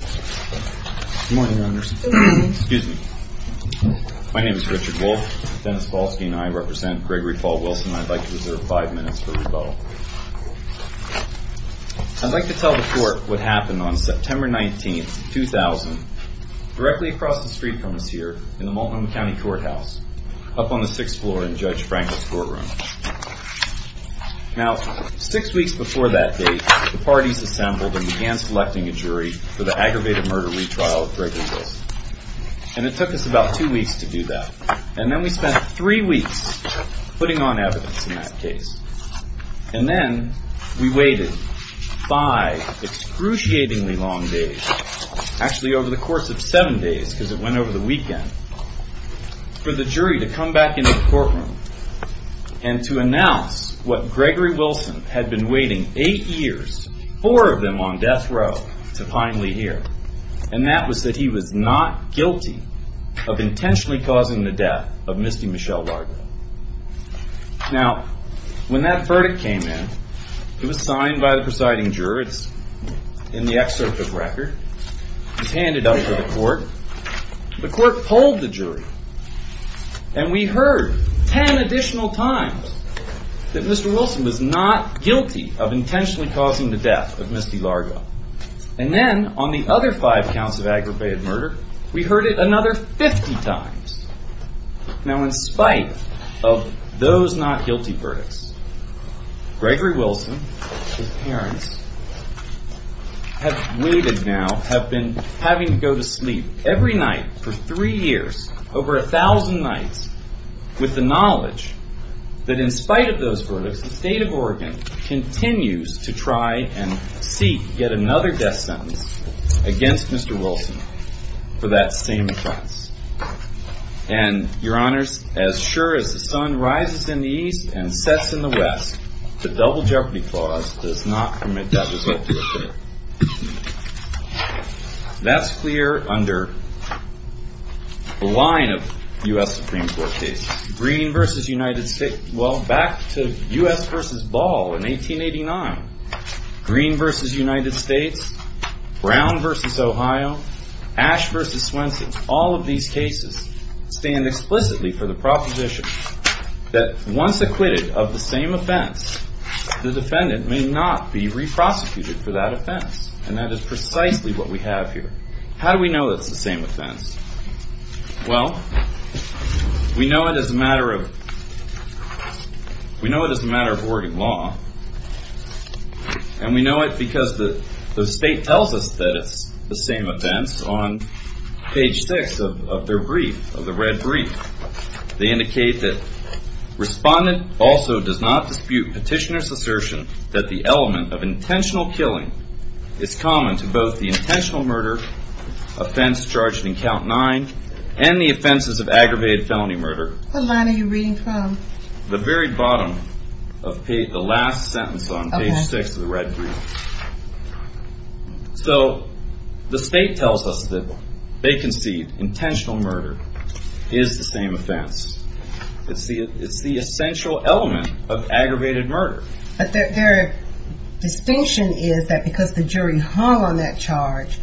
I'd like to tell the court what happened on September 19, 2000, directly across the street from us here, in the Multnomah County Courthouse, up on the 6th floor in Judge Franklin's courtroom. Now, six weeks before that date, the parties assembled and began selecting a jury for the aggravated murder retrial of Gregory Wilson. And it took us about two weeks to do that. And then we spent three weeks putting on evidence in that case. And then we waited five excruciatingly long days, actually over the course of seven days, because it went over the weekend, for the jury to come back into the courtroom and to announce what Gregory Wilson had been waiting eight years, four of them on death row, to finally hear. And that was that he was not guilty of intentionally causing the death of Misty Michelle Larder. Now, when that verdict came in, it was signed by the presiding juror. It's in the excerpt of the record. It was handed over to the court. The court polled the jury. And we heard ten additional times that Mr. Wilson was not guilty of intentionally causing the death of Misty Larder. And then on the other five counts of aggravated murder, we heard it another 50 times. Now, in spite of those not guilty verdicts, Gregory Wilson, his parents, have waited now, have been having to go to sleep every night for three years, over a thousand nights, with the knowledge that in spite of those verdicts, the state of Oregon continues to try and seek yet another death sentence against Mr. Wilson for that same offense. And, your honors, as sure as the sun rises in the east and sets in the west, the double jeopardy clause does not permit that result to occur. That's clear under the line of U.S. Supreme Court cases. Green v. United States, well, back to U.S. v. Ball in 1889. Green v. United States, Brown v. Ohio, Ash v. Swenson, all of these cases stand explicitly for the proposition that once acquitted of the same offense, the defendant may not be re-prosecuted for that offense. And that is precisely what we have here. How do we know it's the same offense? Well, we know it as a matter of Oregon law. And we know it because the state tells us that it's the same offense on page six of their brief, of the red brief. They indicate that respondent also does not dispute petitioner's assertion that the element of intentional killing is common to both the intentional murder offense charged in count nine and the offenses of aggravated felony murder. What line are you reading from? The very bottom of the last sentence on page six of the red brief. So the state tells us that they concede intentional murder is the same offense. It's the essential element of aggravated murder. But their distinction is that because the jury hung on that charge,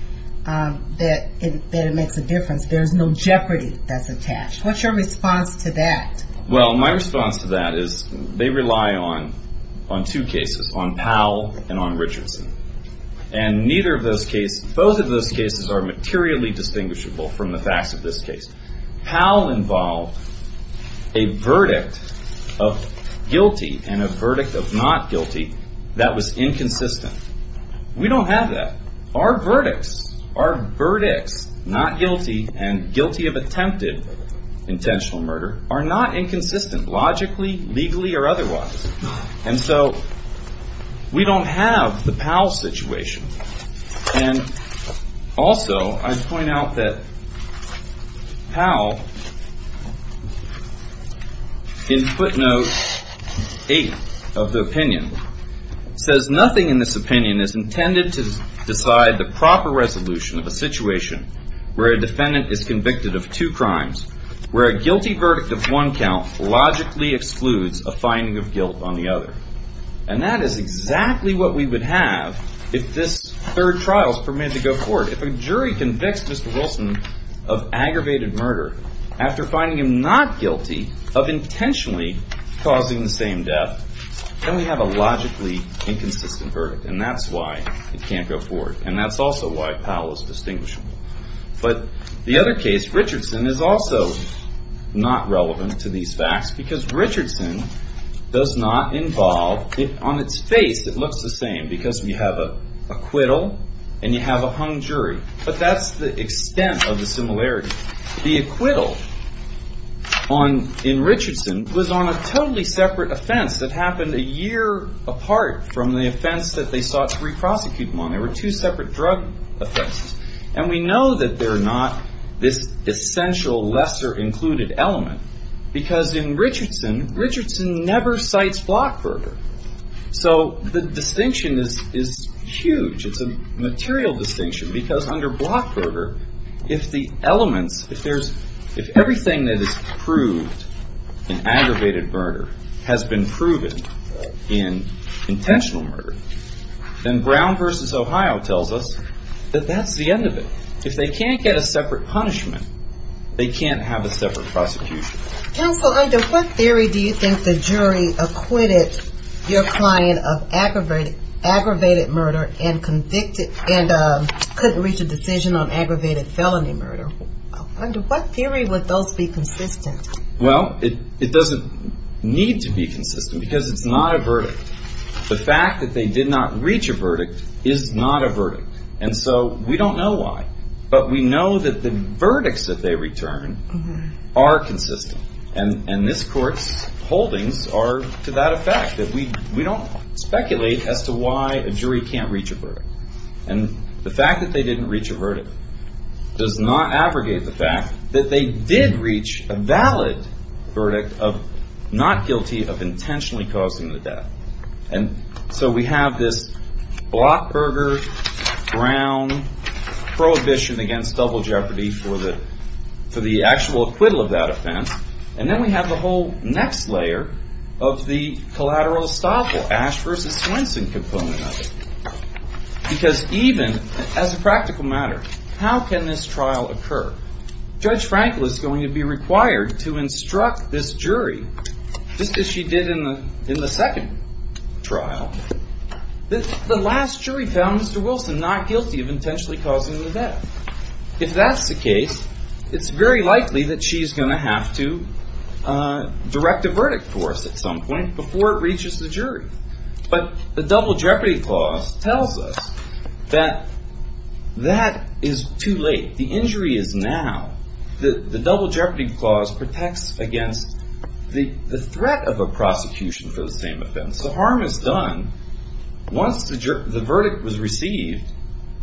that it makes a difference. There's no jeopardy that's attached. What's your response to that? Well, my response to that is they rely on two cases, on Powell and on Richardson. And neither of those cases, both of those cases are materially distinguishable from the facts of this case. Powell involved a verdict of guilty and a verdict of not guilty that was inconsistent. We don't have that. Our verdicts, our verdicts, not guilty and guilty of attempted intentional murder are not inconsistent logically, legally or otherwise. And so we don't have the Powell situation. And also I'd point out that Powell, in footnote eight of the opinion, says nothing in this opinion is intended to decide the proper resolution of a situation where a defendant is convicted of two crimes, where a guilty verdict of one count logically excludes a finding of guilt. And that is exactly what we would have if this third trial is permitted to go forward. If a jury convicts Mr. Wilson of aggravated murder after finding him not guilty of intentionally causing the same death, then we have a logically inconsistent verdict. And that's why it can't go forward. And that's also why Powell is distinguishable. But the other case, Richardson, is also not relevant to these facts because Richardson does not involve, on its face it looks the same because you have an acquittal and you have a hung jury. But that's the extent of the similarity. The acquittal in Richardson was on a totally separate offense that happened a year apart from the offense that they sought to re-prosecute him on. There were two separate drug offenses. And we know that they're not this essential lesser included element because in Richardson, Richardson never cites Blockberger. So the distinction is huge. It's a material distinction because under Blockberger, if the elements, if everything that is proved in aggravated murder has been proven in intentional murder, then Brown v. Ohio tells us that that's the end of it. If they can't get a separate punishment, they can't have a separate prosecution. Counsel, under what theory do you think the jury acquitted your client of aggravated murder and couldn't reach a decision on aggravated felony murder? Under what theory would those be consistent? Well, it doesn't need to be consistent because it's not a verdict. The fact that they did not reach a verdict is not a verdict. And so we don't know why. But we know that the verdicts that they return are consistent. And this court's holdings are to that effect. We don't speculate as to why a jury can't reach a verdict. And the fact that they didn't reach a verdict does not aggregate the fact that they did reach a valid verdict of not guilty of intentionally causing the death. And so we have this Blockberger-Brown prohibition against double jeopardy for the actual acquittal of that offense. And then we have the whole next layer of the collateral estoppel, Ash v. Swenson component of it. Because even as a practical matter, how can this trial occur? Judge Frankel is going to be required to instruct this jury, just as she did in the second trial, that the last jury found Mr. Wilson not guilty of intentionally causing the death. If that's the case, it's very likely that she's going to have to direct a verdict for us at some point before it reaches the jury. But the double jeopardy clause tells us that that is too late. The injury is now. The double jeopardy clause protects against the threat of a prosecution for the same offense. The harm is done once the verdict was received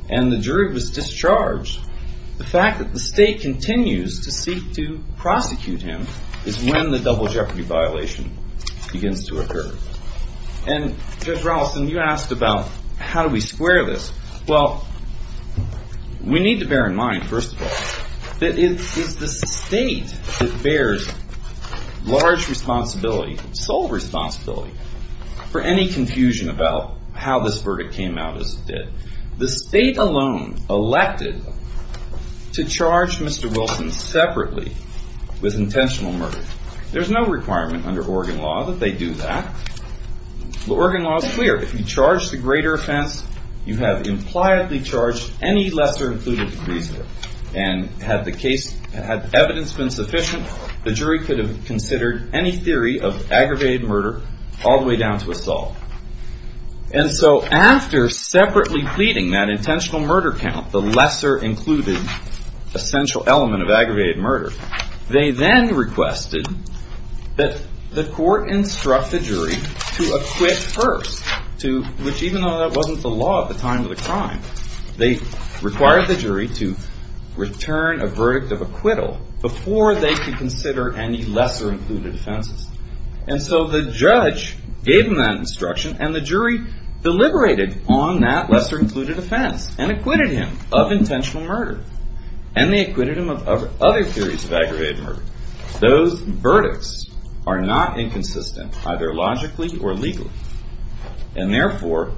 and the jury was discharged. The fact that the state continues to seek to prosecute him is when the double jeopardy violation begins to occur. And Judge Rallison, you asked about how do we square this. Well, we need to bear in mind, first of all, that it is the state that bears large responsibility, sole responsibility, for any confusion about how this verdict came out as it did. The state alone elected to charge Mr. Wilson separately with intentional murder. There's no requirement under Oregon law that they do that. But Oregon law is clear. If you charge the greater offense, you have impliedly charged any lesser included in the case. And had the evidence been sufficient, the jury could have considered any theory of aggravated murder all the way down to assault. And so after separately pleading that intentional murder count, the lesser included essential element of aggravated murder, they then requested that the court instruct the jury to acquit first, which even though that wasn't the law at the time of the crime, they required the jury to return a verdict of acquittal before they could consider any lesser included offenses. And so the judge gave them that instruction and the jury deliberated on that lesser included offense and acquitted him of intentional murder. And they acquitted him of other theories of aggravated murder. Those verdicts are not inconsistent, either logically or legally. And therefore,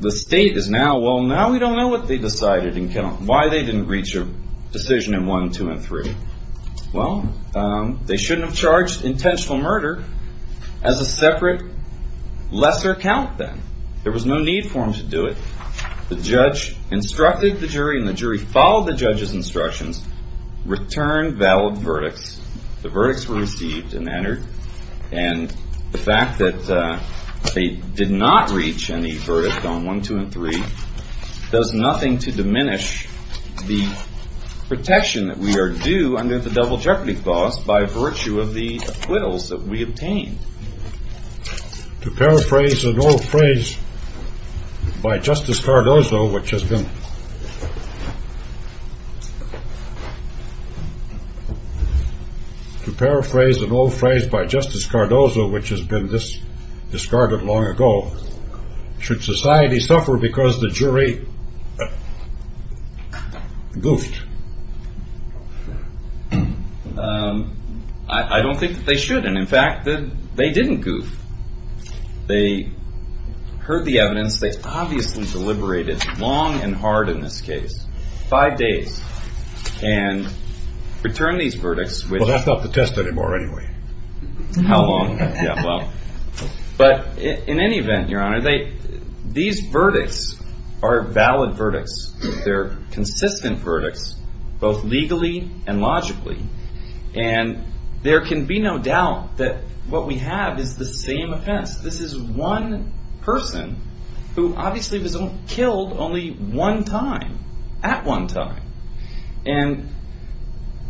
the state is now, well, now we don't know what they decided and why they didn't reach a decision in one, two, and three. Well, they shouldn't have charged intentional murder as a separate lesser count then. There was no need for them to do it. The judge instructed the jury and the jury followed the judge's instructions, returned valid verdicts. The verdicts were received and entered. And the fact that they did not reach any verdict on one, two, and three does nothing to diminish the protection that we are due under the double jeopardy clause by virtue of the acquittals that we obtained. To paraphrase an old phrase by Justice Cardozo, which has been discarded long ago, should society suffer because the jury goofed? I don't think that they should. And in fact, they didn't goof. They heard the evidence. They obviously deliberated long and hard in this case, five days, and returned these verdicts. Well, that's not the test anymore anyway. But in any event, Your Honor, these verdicts are valid verdicts. They're consistent verdicts, both legally and logically. And there can be no doubt that what we have is the same offense. This is one person who obviously was killed only one time, at one time. And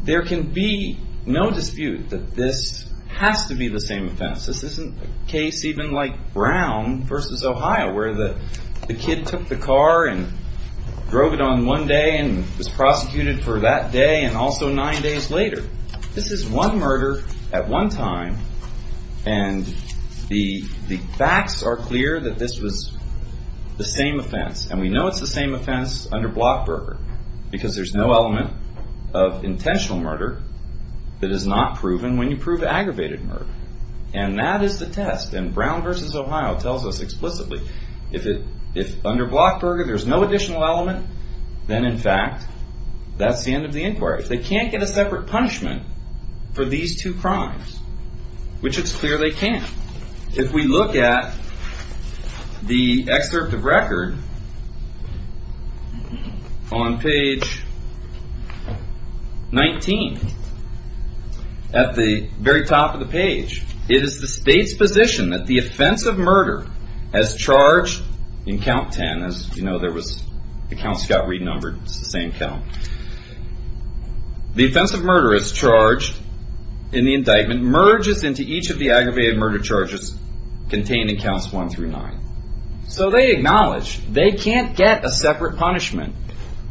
there can be no dispute that this has to be the same offense. This isn't a case even like Brown v. Ohio, where the kid took the car and drove it on one day and was prosecuted for that day and also nine days later. This is one murder at one time, and the facts are clear that this was the same offense. And we know it's the same offense under Blockburger, because there's no element of intentional murder that is not proven when you prove aggravated murder. And that is the test. And Brown v. Ohio tells us explicitly, if under Blockburger there's no additional element, then in fact, that's the end of the inquiry. They can't get a separate punishment for these two crimes, which it's clear they can't. If we look at the excerpt of record on page 19, at the very top of the page, it is the state's position that the offense of murder as charged in count 10, as you know, the counts got renumbered. It's the same count. The offense of murder as charged in the indictment merges into each of the aggravated murder charges contained in counts 1 through 9. So they acknowledge they can't get a separate punishment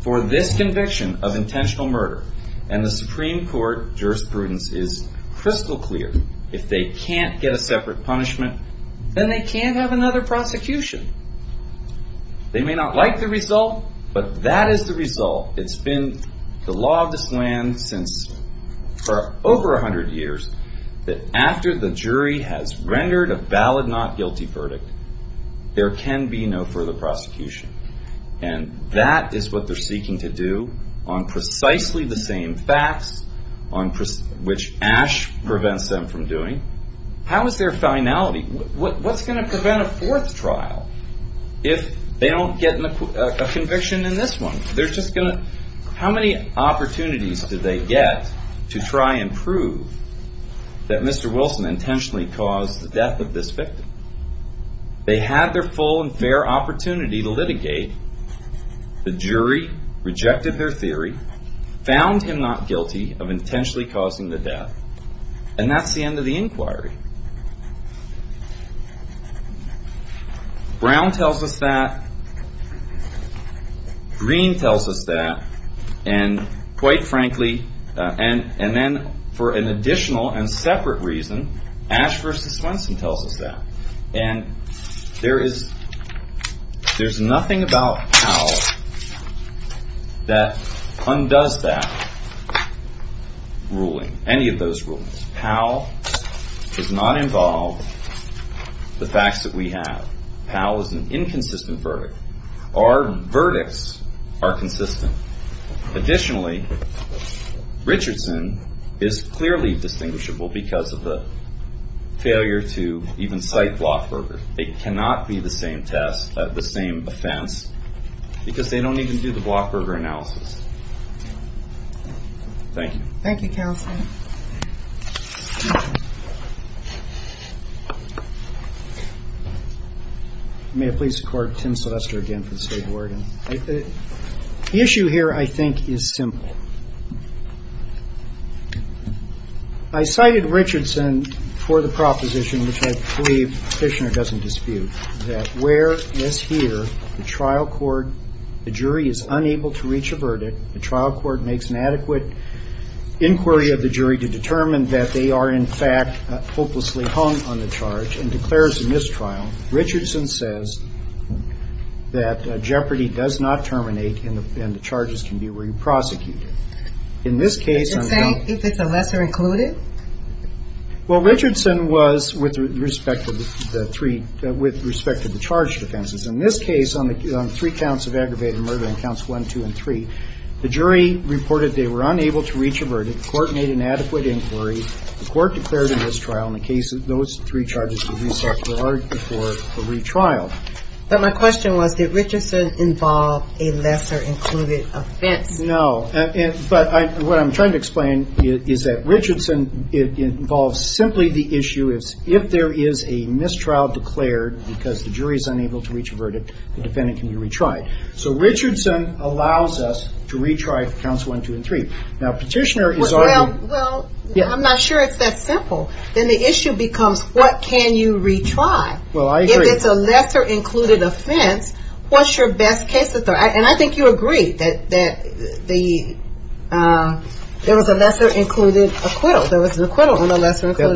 for this conviction of intentional murder. And the Supreme Court jurisprudence is crystal clear. If they can't get a separate punishment, then they can't have another prosecution. They may not like the result, but that is the result. It's been the law of this land for over 100 years that after the jury has rendered a valid not guilty verdict, there can be no further prosecution. And that is what they're seeking to do on precisely the same facts, which Ash prevents them from doing. How is there finality? What's going to prevent a fourth trial if they don't get a conviction in this one? How many opportunities did they get to try and prove that Mr. Wilson intentionally caused the death of this victim? They had their full and fair opportunity to litigate. The jury rejected their theory, found him not guilty of intentionally causing the death, and that's the end of the inquiry. Brown tells us that. Green tells us that. And quite frankly, and then for an additional and separate reason, Ash versus Wilson tells us that. And there's nothing about Powell that undoes that ruling, any of those rulings. Powell does not involve the facts that we have. Powell is an inconsistent verdict. Our verdicts are consistent. Additionally, Richardson is clearly distinguishable because of the failure to even cite Blockburger. They cannot be the same test, the same offense, because they don't even do the Blockburger analysis. Thank you. Thank you, Counselor. May I please record Tim Sylvester again for the State Board? The issue here, I think, is simple. I cited Richardson for the proposition, which I believe Fishner doesn't dispute, that where, as here, the trial court, the jury is unable to reach a verdict, the trial court makes an adequate inquiry of the jury to determine that they are in fact hopelessly hung on the charge and declares a mistrial, Richardson says that jeopardy does not terminate and the charges can be re-prosecuted. In this case, if it's a lesser included? Well, Richardson was, with respect to the three, with respect to the charged offenses. In this case, on three counts of aggravated murder on counts one, two, and three, the jury reported they were unable to reach a verdict. The court made an adequate inquiry. The court declared a mistrial in the case of those three charges to re-prosecute before a retrial. But my question was, did Richardson involve a lesser included offense? No, but what I'm trying to explain is that Richardson involves simply the issue, if there is a mistrial declared because the jury is unable to reach a verdict, the defendant can be retried. So Richardson allows us to retry counts one, two, and three. Well, I'm not sure it's that simple. Then the issue becomes, what can you retry? If it's a lesser included offense, what's your best case authority? And I think you agree that there was a lesser included acquittal.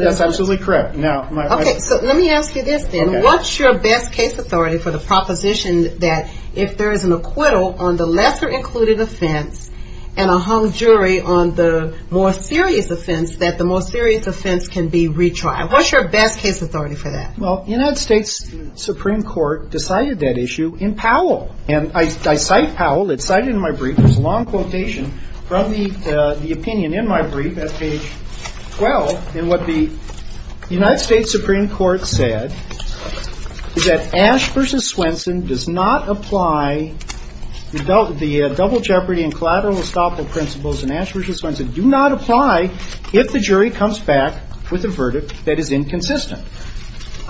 That's absolutely correct. Okay, so let me ask you this then. What's your best case authority for the proposition that if there is an acquittal on the lesser included offense and a hung jury on the more serious offense, that the more serious offense can be retried? What's your best case authority for that? Well, the United States Supreme Court decided that issue in Powell. And I cite Powell. It's cited in my brief. It's a long quotation from the opinion in my brief at page 12. And what the United States Supreme Court said is that Ash v. Swenson does not apply the double jeopardy and collateral estoppel principles in Ash v. Swenson do not apply if the jury comes back with a verdict that is inconsistent.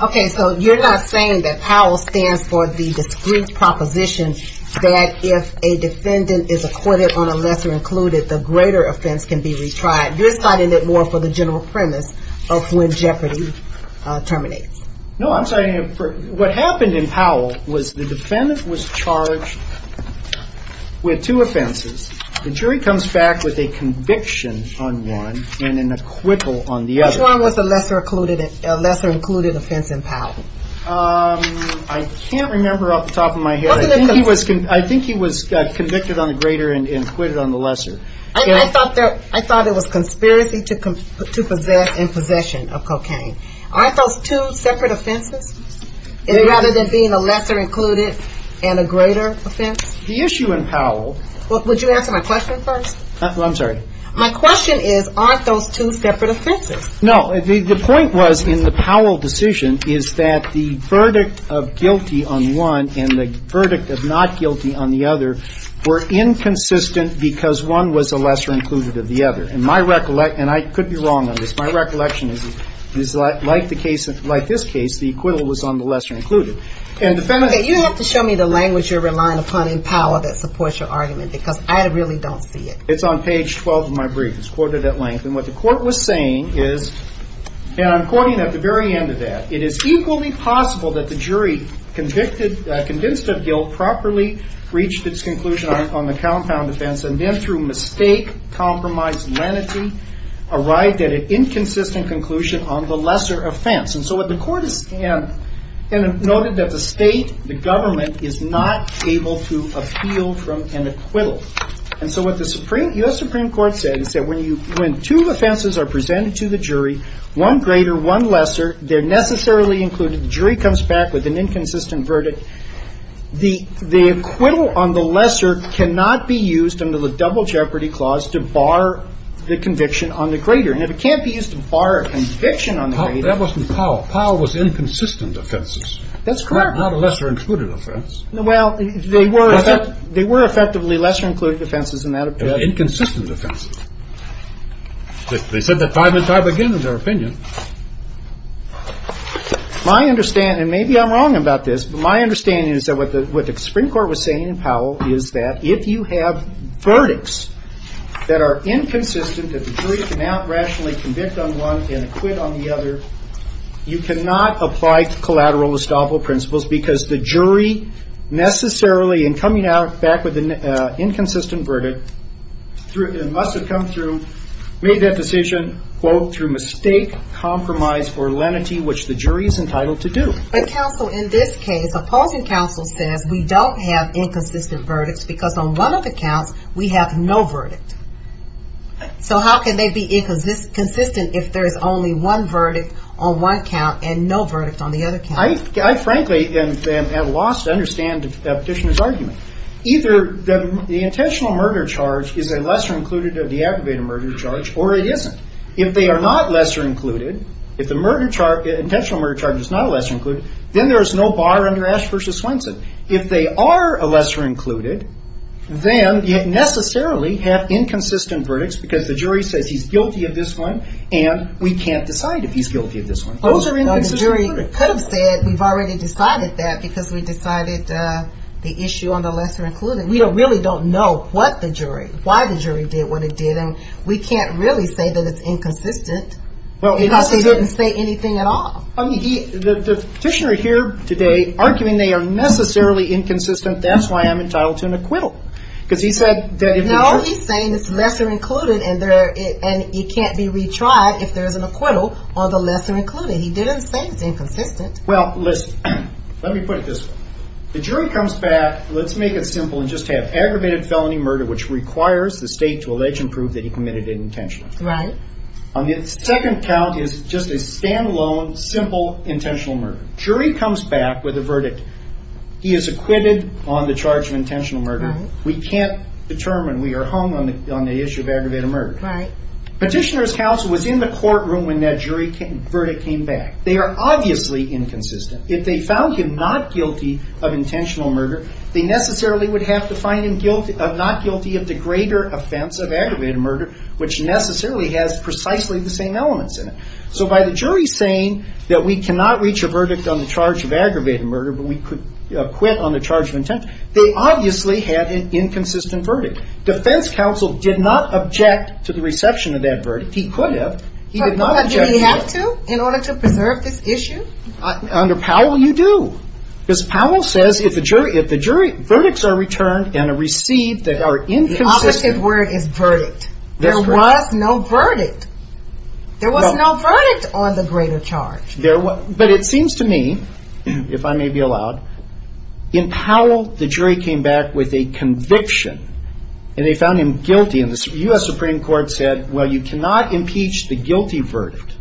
Okay, so you're not saying that Powell stands for the discreet proposition that if a defendant is acquitted on a lesser included, the greater offense can be retried. You're citing it more for the general premise of when jeopardy terminates. No, I'm citing it for what happened in Powell was the defendant was charged with two offenses. The jury comes back with a conviction on one and an acquittal on the other. Which one was the lesser included offense in Powell? I can't remember off the top of my head. I think he was convicted on the greater and acquitted on the lesser. I thought there was conspiracy to possess in possession of cocaine. Aren't those two separate offenses rather than being a lesser included and a greater offense? The issue in Powell. Would you answer my question first? I'm sorry. My question is aren't those two separate offenses? No, the point was in the Powell decision is that the verdict of guilty on one and the verdict of not guilty on the other were inconsistent because one was a lesser included of the other. And my recollection, and I could be wrong on this, my recollection is like the case, like this case, the acquittal was on the lesser included. Okay, you have to show me the language you're relying upon in Powell that supports your argument because I really don't see it. It's on page 12 of my brief. It's quoted at length. And what the court was saying is, and I'm quoting at the very end of that, it is equally possible that the jury convicted, convinced of guilt, properly reached its conclusion on the compound offense, and then through mistake, compromise, lenity, arrived at an inconsistent conclusion on the lesser offense. And so what the court has noted that the state, the government, is not able to appeal from an acquittal. And so what the Supreme, U.S. Supreme Court said is that when you, when two offenses are presented to the jury, one greater, one lesser, they're necessarily included, the jury comes back with an inconsistent verdict. The acquittal on the lesser cannot be used under the double jeopardy clause to bar the conviction on the greater. And if it can't be used to bar a conviction on the greater. That wasn't Powell. Powell was inconsistent offenses. That's correct. Not a lesser included offense. Well, they were effectively lesser included offenses in that opinion. They were inconsistent offenses. They said that time and time again in their opinion. My understanding, and maybe I'm wrong about this, but my understanding is that what the Supreme Court was saying in Powell is that if you have verdicts that are inconsistent, that the jury cannot rationally convict on one and acquit on the other, you cannot apply collateral estoppel principles because the jury necessarily, in coming out back with an inconsistent verdict, must have come through, made that decision, quote, through mistake, compromise, or lenity, which the jury is entitled to do. But counsel, in this case, opposing counsel says we don't have inconsistent verdicts because on one of the counts, we have no verdict. So how can they be inconsistent if there is only one verdict on one count and no verdict on the other count? I frankly am at a loss to understand the petitioner's argument. Either the intentional murder charge is a lesser included or de-aggravated murder charge, or it isn't. If they are not lesser included, if the intentional murder charge is not a lesser included, then there is no bar under Ash v. Swenson. If they are a lesser included, then you necessarily have inconsistent verdicts because the jury says he's guilty of this one, and we can't decide if he's guilty of this one. Those are inconsistent verdicts. The jury could have said we've already decided that because we decided the issue on the lesser included. We really don't know what the jury, why the jury did what it did, and we can't really say that it's inconsistent because they didn't say anything at all. The petitioner here today, arguing they are necessarily inconsistent, that's why I'm entitled to an acquittal. No, he's saying it's lesser included and it can't be retried if there's an acquittal on the lesser included. He didn't say it's inconsistent. Well, let me put it this way. The jury comes back, let's make it simple and just have aggravated felony murder, which requires the state to allege and prove that he committed it intentionally. Right. The second count is just a standalone, simple, intentional murder. Jury comes back with a verdict. He is acquitted on the charge of intentional murder. We can't determine. We are hung on the issue of aggravated murder. Right. Petitioner's counsel was in the courtroom when that jury verdict came back. They are obviously inconsistent. If they found him not guilty of intentional murder, they necessarily would have to find him not guilty of the greater offense of aggravated murder, which necessarily has precisely the same elements in it. So by the jury saying that we cannot reach a verdict on the charge of aggravated murder, but we could acquit on the charge of intent, they obviously had an inconsistent verdict. Defense counsel did not object to the reception of that verdict. He could have. He did not object to it. But did he have to in order to preserve this issue? Under Powell, you do. Because Powell says if the jury verdicts are returned and are received that are inconsistent. The opposite word is verdict. There was no verdict. There was no verdict on the greater charge. But it seems to me, if I may be allowed, in Powell, the jury came back with a conviction and they found him guilty. And the U.S. Supreme Court said, well, you cannot impeach the guilty verdict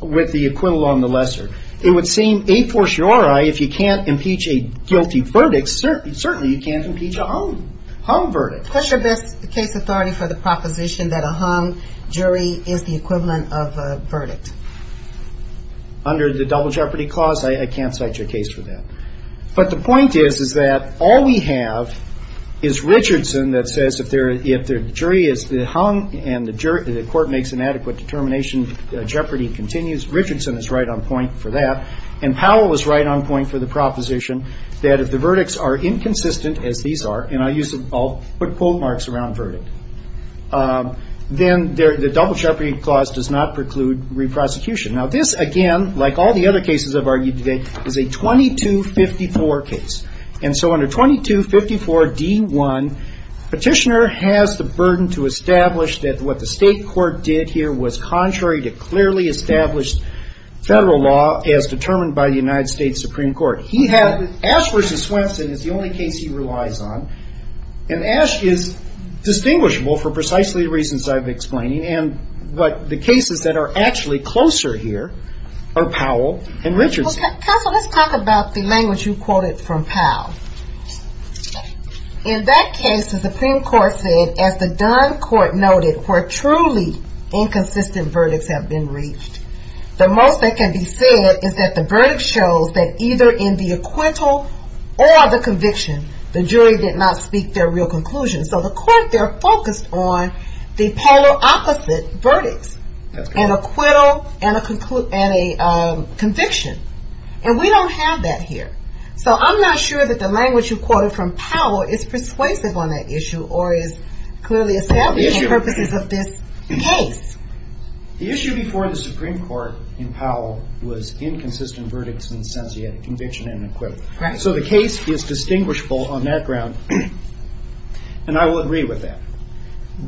with the equivalent on the lesser. It would seem a fortiori if you can't impeach a guilty verdict, certainly you can't impeach a hung verdict. What's your best case authority for the proposition that a hung jury is the equivalent of a verdict? Under the double jeopardy clause, I can't cite your case for that. But the point is, is that all we have is Richardson that says if the jury is hung and the court makes an adequate determination, jeopardy continues. Richardson is right on point for that. And Powell was right on point for the proposition that if the verdicts are inconsistent, as these are, and I'll put quote marks around verdict, then the double jeopardy clause does not preclude reprosecution. Now, this, again, like all the other cases I've argued today, is a 2254 case. And so under 2254 D1, petitioner has the burden to establish that what the state court did here was contrary to clearly established federal law as determined by the United States Supreme Court. He had Ash v. Swenson is the only case he relies on. And Ash is distinguishable for precisely the reasons I've explained. But the cases that are actually closer here are Powell and Richardson. Counsel, let's talk about the language you quoted from Powell. In that case, the Supreme Court said, as the Dunn Court noted, where truly inconsistent verdicts have been reached, the most that can be said is that the verdict shows that either in the acquittal or the conviction, the jury did not speak their real conclusion. So the court there focused on the polar opposite verdicts. An acquittal and a conviction. And we don't have that here. So I'm not sure that the language you quoted from Powell is persuasive on that issue or is clearly establishing purposes of this case. The issue before the Supreme Court in Powell was inconsistent verdicts in the sense that you had a conviction and an acquittal. So the case is distinguishable on that ground. And I will agree with that.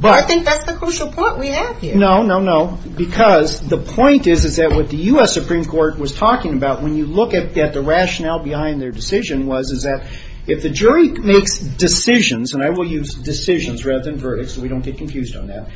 I think that's the crucial point we have here. No, no, no. Because the point is that what the U.S. Supreme Court was talking about when you look at the rationale behind their decision was that if the jury makes decisions, and I will use decisions rather than verdicts so we don't get confused on that.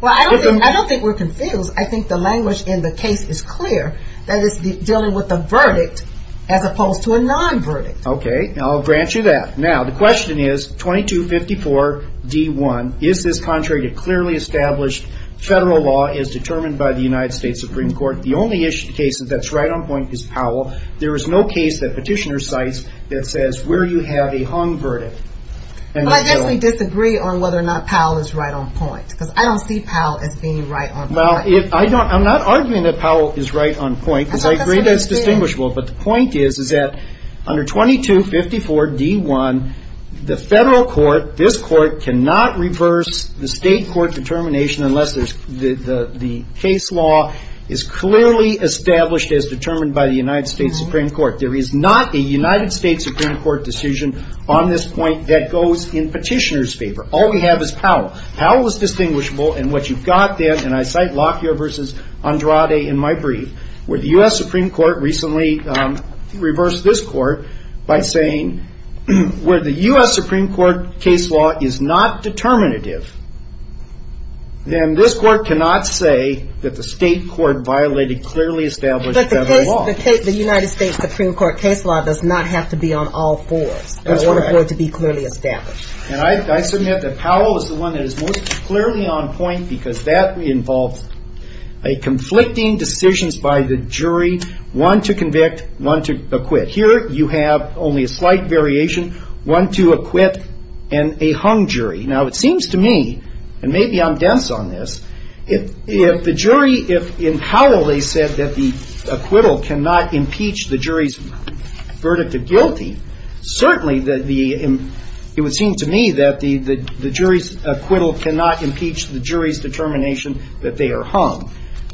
Well, I don't think we're confused. I think the language in the case is clear that it's dealing with a verdict as opposed to a non-verdict. Okay. I'll grant you that. Now, the question is 2254 D1, is this contrary to clearly established federal law as determined by the United States Supreme Court? The only issue in the case that's right on point is Powell. There is no case that Petitioner cites that says where you have a hung verdict. I actually disagree on whether or not Powell is right on point because I don't see Powell as being right on point. Well, I'm not arguing that Powell is right on point because I agree that it's distinguishable. But the point is that under 2254 D1, the federal court, this court, cannot reverse the state court determination unless the case law is clearly established as determined by the United States Supreme Court. There is not a United States Supreme Court decision on this point that goes in Petitioner's favor. All we have is Powell. Powell is distinguishable, and what you've got then, and I cite Lockyer versus Andrade in my brief, where the U.S. Supreme Court recently reversed this court by saying where the U.S. Supreme Court case law is not determinative, then this court cannot say that the state court violated clearly established federal law. But the United States Supreme Court case law does not have to be on all fours in order for it to be clearly established. And I submit that Powell is the one that is most clearly on point because that involves conflicting decisions by the jury, one to convict, one to acquit. Here you have only a slight variation, one to acquit and a hung jury. Now, it seems to me, and maybe I'm dense on this, if the jury, if in Powell they said that the acquittal cannot impeach the jury's determination that they are hung,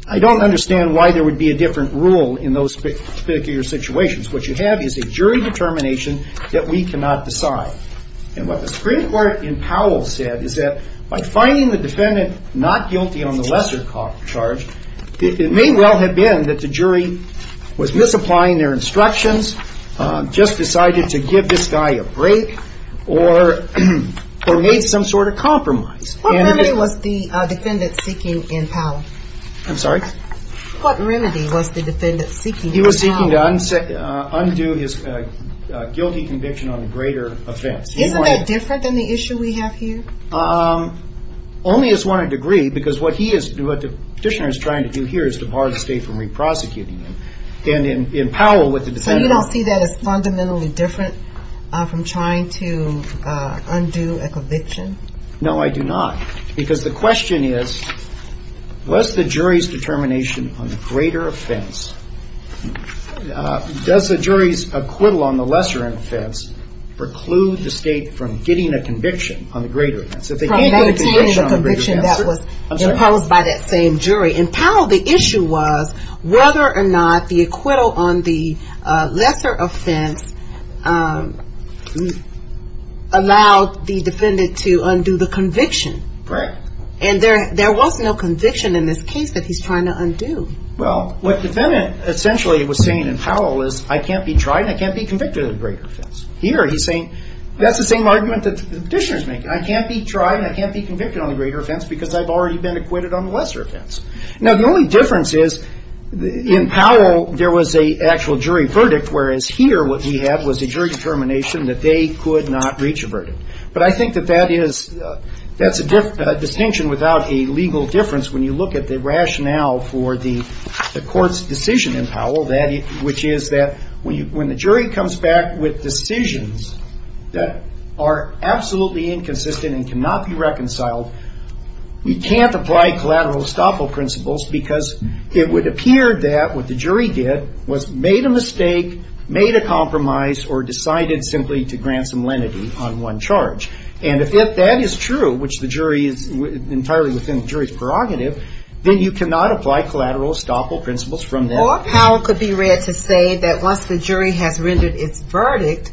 I don't understand why there would be a different rule in those particular situations. What you have is a jury determination that we cannot decide. And what the Supreme Court in Powell said is that by finding the defendant not guilty on the lesser charge, it may well have been that the jury was misapplying their instructions, just decided to give this guy a break or made some sort of compromise. What remedy was the defendant seeking in Powell? I'm sorry? What remedy was the defendant seeking in Powell? He was seeking to undo his guilty conviction on a greater offense. Isn't that different than the issue we have here? Only as one in degree because what the petitioner is trying to do here is to bar the state from re-prosecuting him. So you don't see that as fundamentally different from trying to undo a conviction? No, I do not. Because the question is, was the jury's determination on the greater offense, does the jury's acquittal on the lesser offense preclude the state from getting a conviction on the greater offense? From maintaining the conviction that was imposed by that same jury. In Powell, the issue was whether or not the acquittal on the lesser offense allowed the defendant to undo the conviction. Correct. And there was no conviction in this case that he's trying to undo. Well, what the defendant essentially was saying in Powell is, I can't be tried and I can't be convicted on the greater offense. Here he's saying, that's the same argument that the petitioner is making. I can't be tried and I can't be convicted on the greater offense because I've already been acquitted on the lesser offense. Now, the only difference is, in Powell, there was an actual jury verdict, whereas here what we had was a jury determination that they could not reach a verdict. But I think that that's a distinction without a legal difference when you look at the rationale for the court's decision in Powell, which is that when the jury comes back with decisions that are absolutely inconsistent and cannot be reconciled, we can't apply collateral estoppel principles because it would appear that what the jury did was made a mistake, made a compromise, or decided simply to grant some lenity on one charge. And if that is true, which the jury is entirely within the jury's prerogative, then you cannot apply collateral estoppel principles from there. Or Powell could be read to say that once the jury has rendered its verdict,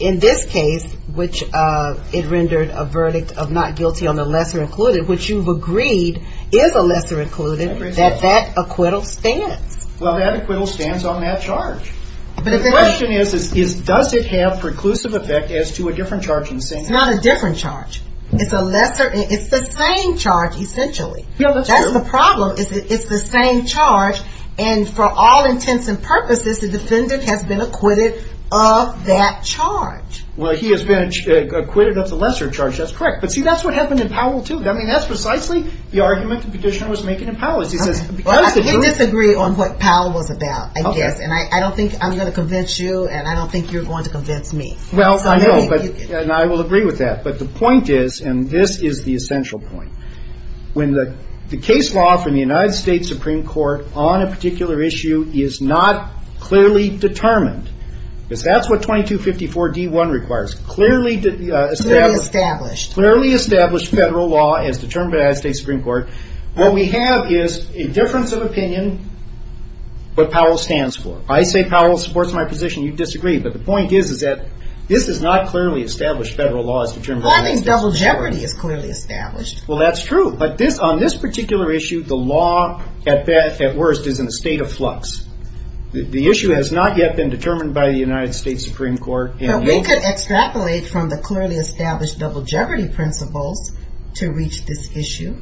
in this case, which it rendered a verdict of not guilty on the lesser-included, which you've agreed is a lesser-included, that that acquittal stands. Well, that acquittal stands on that charge. But the question is, does it have preclusive effect as to a different charge in the same case? It's not a different charge. It's the same charge, essentially. That's the problem. It's the same charge. And for all intents and purposes, the defendant has been acquitted of that charge. Well, he has been acquitted of the lesser charge. That's correct. But see, that's what happened in Powell, too. I mean, that's precisely the argument the petitioner was making in Powell. He says, because the jury – I disagree on what Powell was about, I guess. Okay. And I don't think I'm going to convince you, and I don't think you're going to convince me. Well, I know, and I will agree with that. But the point is, and this is the essential point, when the case law from the United States Supreme Court on a particular issue is not clearly determined, because that's what 2254d.1 requires, clearly established federal law as determined by the United States Supreme Court, what we have is a difference of opinion, what Powell stands for. I say Powell supports my position. You disagree. But the point is, is that this is not clearly established federal law as determined by the United States Supreme Court. I think double jeopardy is clearly established. Well, that's true. But on this particular issue, the law at worst is in a state of flux. The issue has not yet been determined by the United States Supreme Court. But we could extrapolate from the clearly established double jeopardy principles to reach this issue.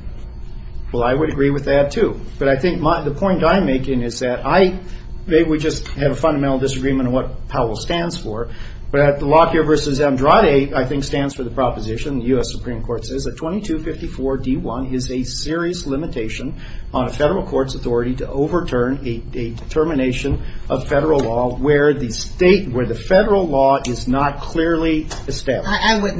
Well, I would agree with that, too. But I think the point I'm making is that I – maybe we just have a fundamental disagreement on what Powell stands for, but at the Lockyer v. Andrade, I think, stands for the proposition, the U.S. Supreme Court says, that 2254d.1 is a serious limitation on a federal court's authority to overturn a determination of federal law where the state – where the federal law is not clearly established. I would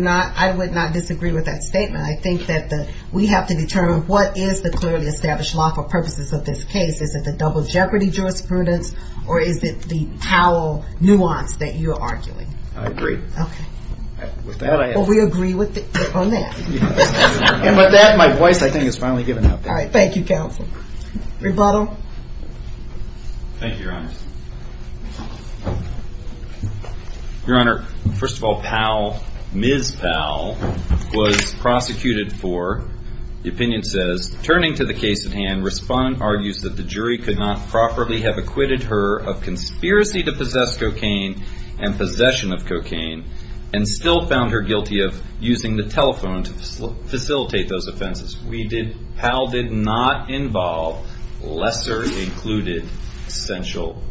not disagree with that statement. I think that we have to determine what is the clearly established law for purposes of this case. Is it the double jeopardy jurisprudence, or is it the Powell nuance that you're arguing? I agree. Okay. With that, I – Well, we agree with it on that. And with that, my voice, I think, is finally given up. All right. Thank you, counsel. Rebuttal. Thank you, Your Honor. Your Honor, first of all, Powell, Ms. Powell, was prosecuted for, the opinion says, turning to the case at hand, respondent argues that the jury could not properly have acquitted her of conspiracy to possess cocaine and possession of cocaine, and still found her guilty of using the telephone to facilitate those offenses. We did – Powell did not involve lesser included essential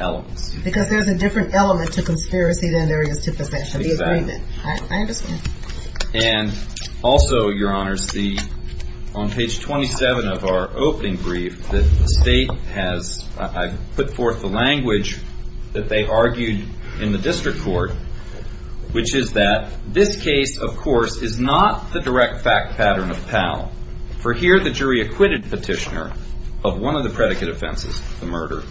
elements. Because there's a different element to conspiracy than there is to possession. Exactly. The agreement. I understand. And also, Your Honor, on page 27 of our opening brief, the State has – I put forth the language that they argued in the district court, which is that this case, of course, is not the direct fact pattern of Powell. For here, the jury acquitted Petitioner of one of the predicate offenses, the murder,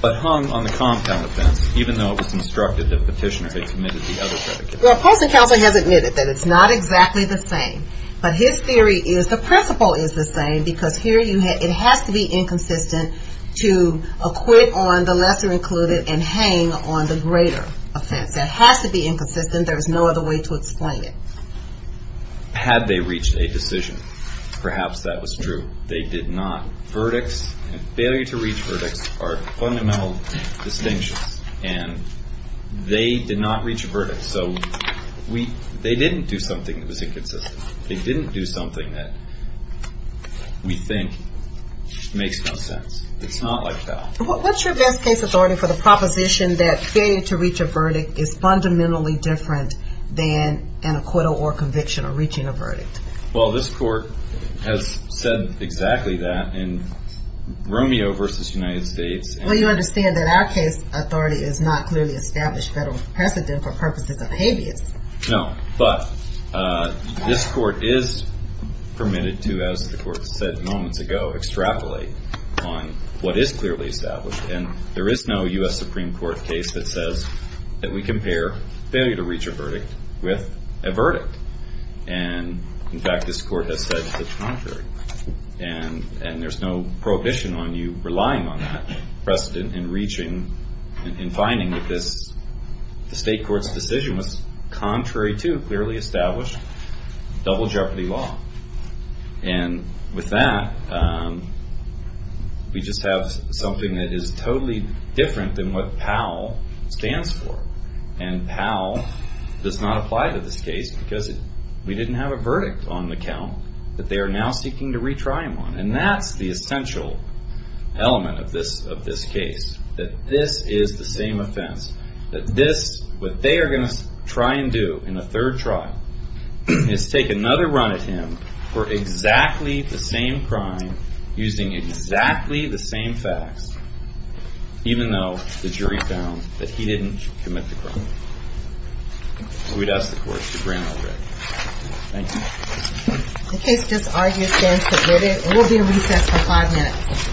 but hung on the compound offense, even though it was instructed that Petitioner had committed the other predicate offense. The opposing counsel has admitted that it's not exactly the same. But his theory is the principle is the same, because here it has to be inconsistent to acquit on the lesser included and hang on the greater offense. That has to be inconsistent. There is no other way to explain it. Had they reached a decision, perhaps that was true. They did not. Verdicts, failure to reach verdicts, are fundamentally distinctive. And they did not reach a verdict. So they didn't do something that was inconsistent. They didn't do something that we think makes no sense. It's not like that. What's your best case authority for the proposition that failure to reach a verdict is fundamentally different than an acquittal or conviction or reaching a verdict? Well, this court has said exactly that in Romeo v. United States. Well, you understand that our case authority is not clearly established federal precedent for purposes of habeas. No. But this court is permitted to, as the court said moments ago, extrapolate on what is clearly established. And there is no U.S. Supreme Court case that says that we compare failure to reach a verdict with a verdict. And, in fact, this court has said the contrary. And there's no prohibition on you relying on that precedent in reaching and finding that the state court's decision was contrary to clearly established double jeopardy law. And with that, we just have something that is totally different than what PAL stands for. And PAL does not apply to this case because we didn't have a verdict on the count that they are now seeking to retry him on. And that's the essential element of this case, that this is the same offense, that this, what they are going to try and do in a third trial, is take another run at him for exactly the same crime, using exactly the same facts, even though the jury found that he didn't commit the crime. So we'd ask the court to grant our verdict. Thank you. The case just argues stands submitted and will be in recess for five minutes. Thank you.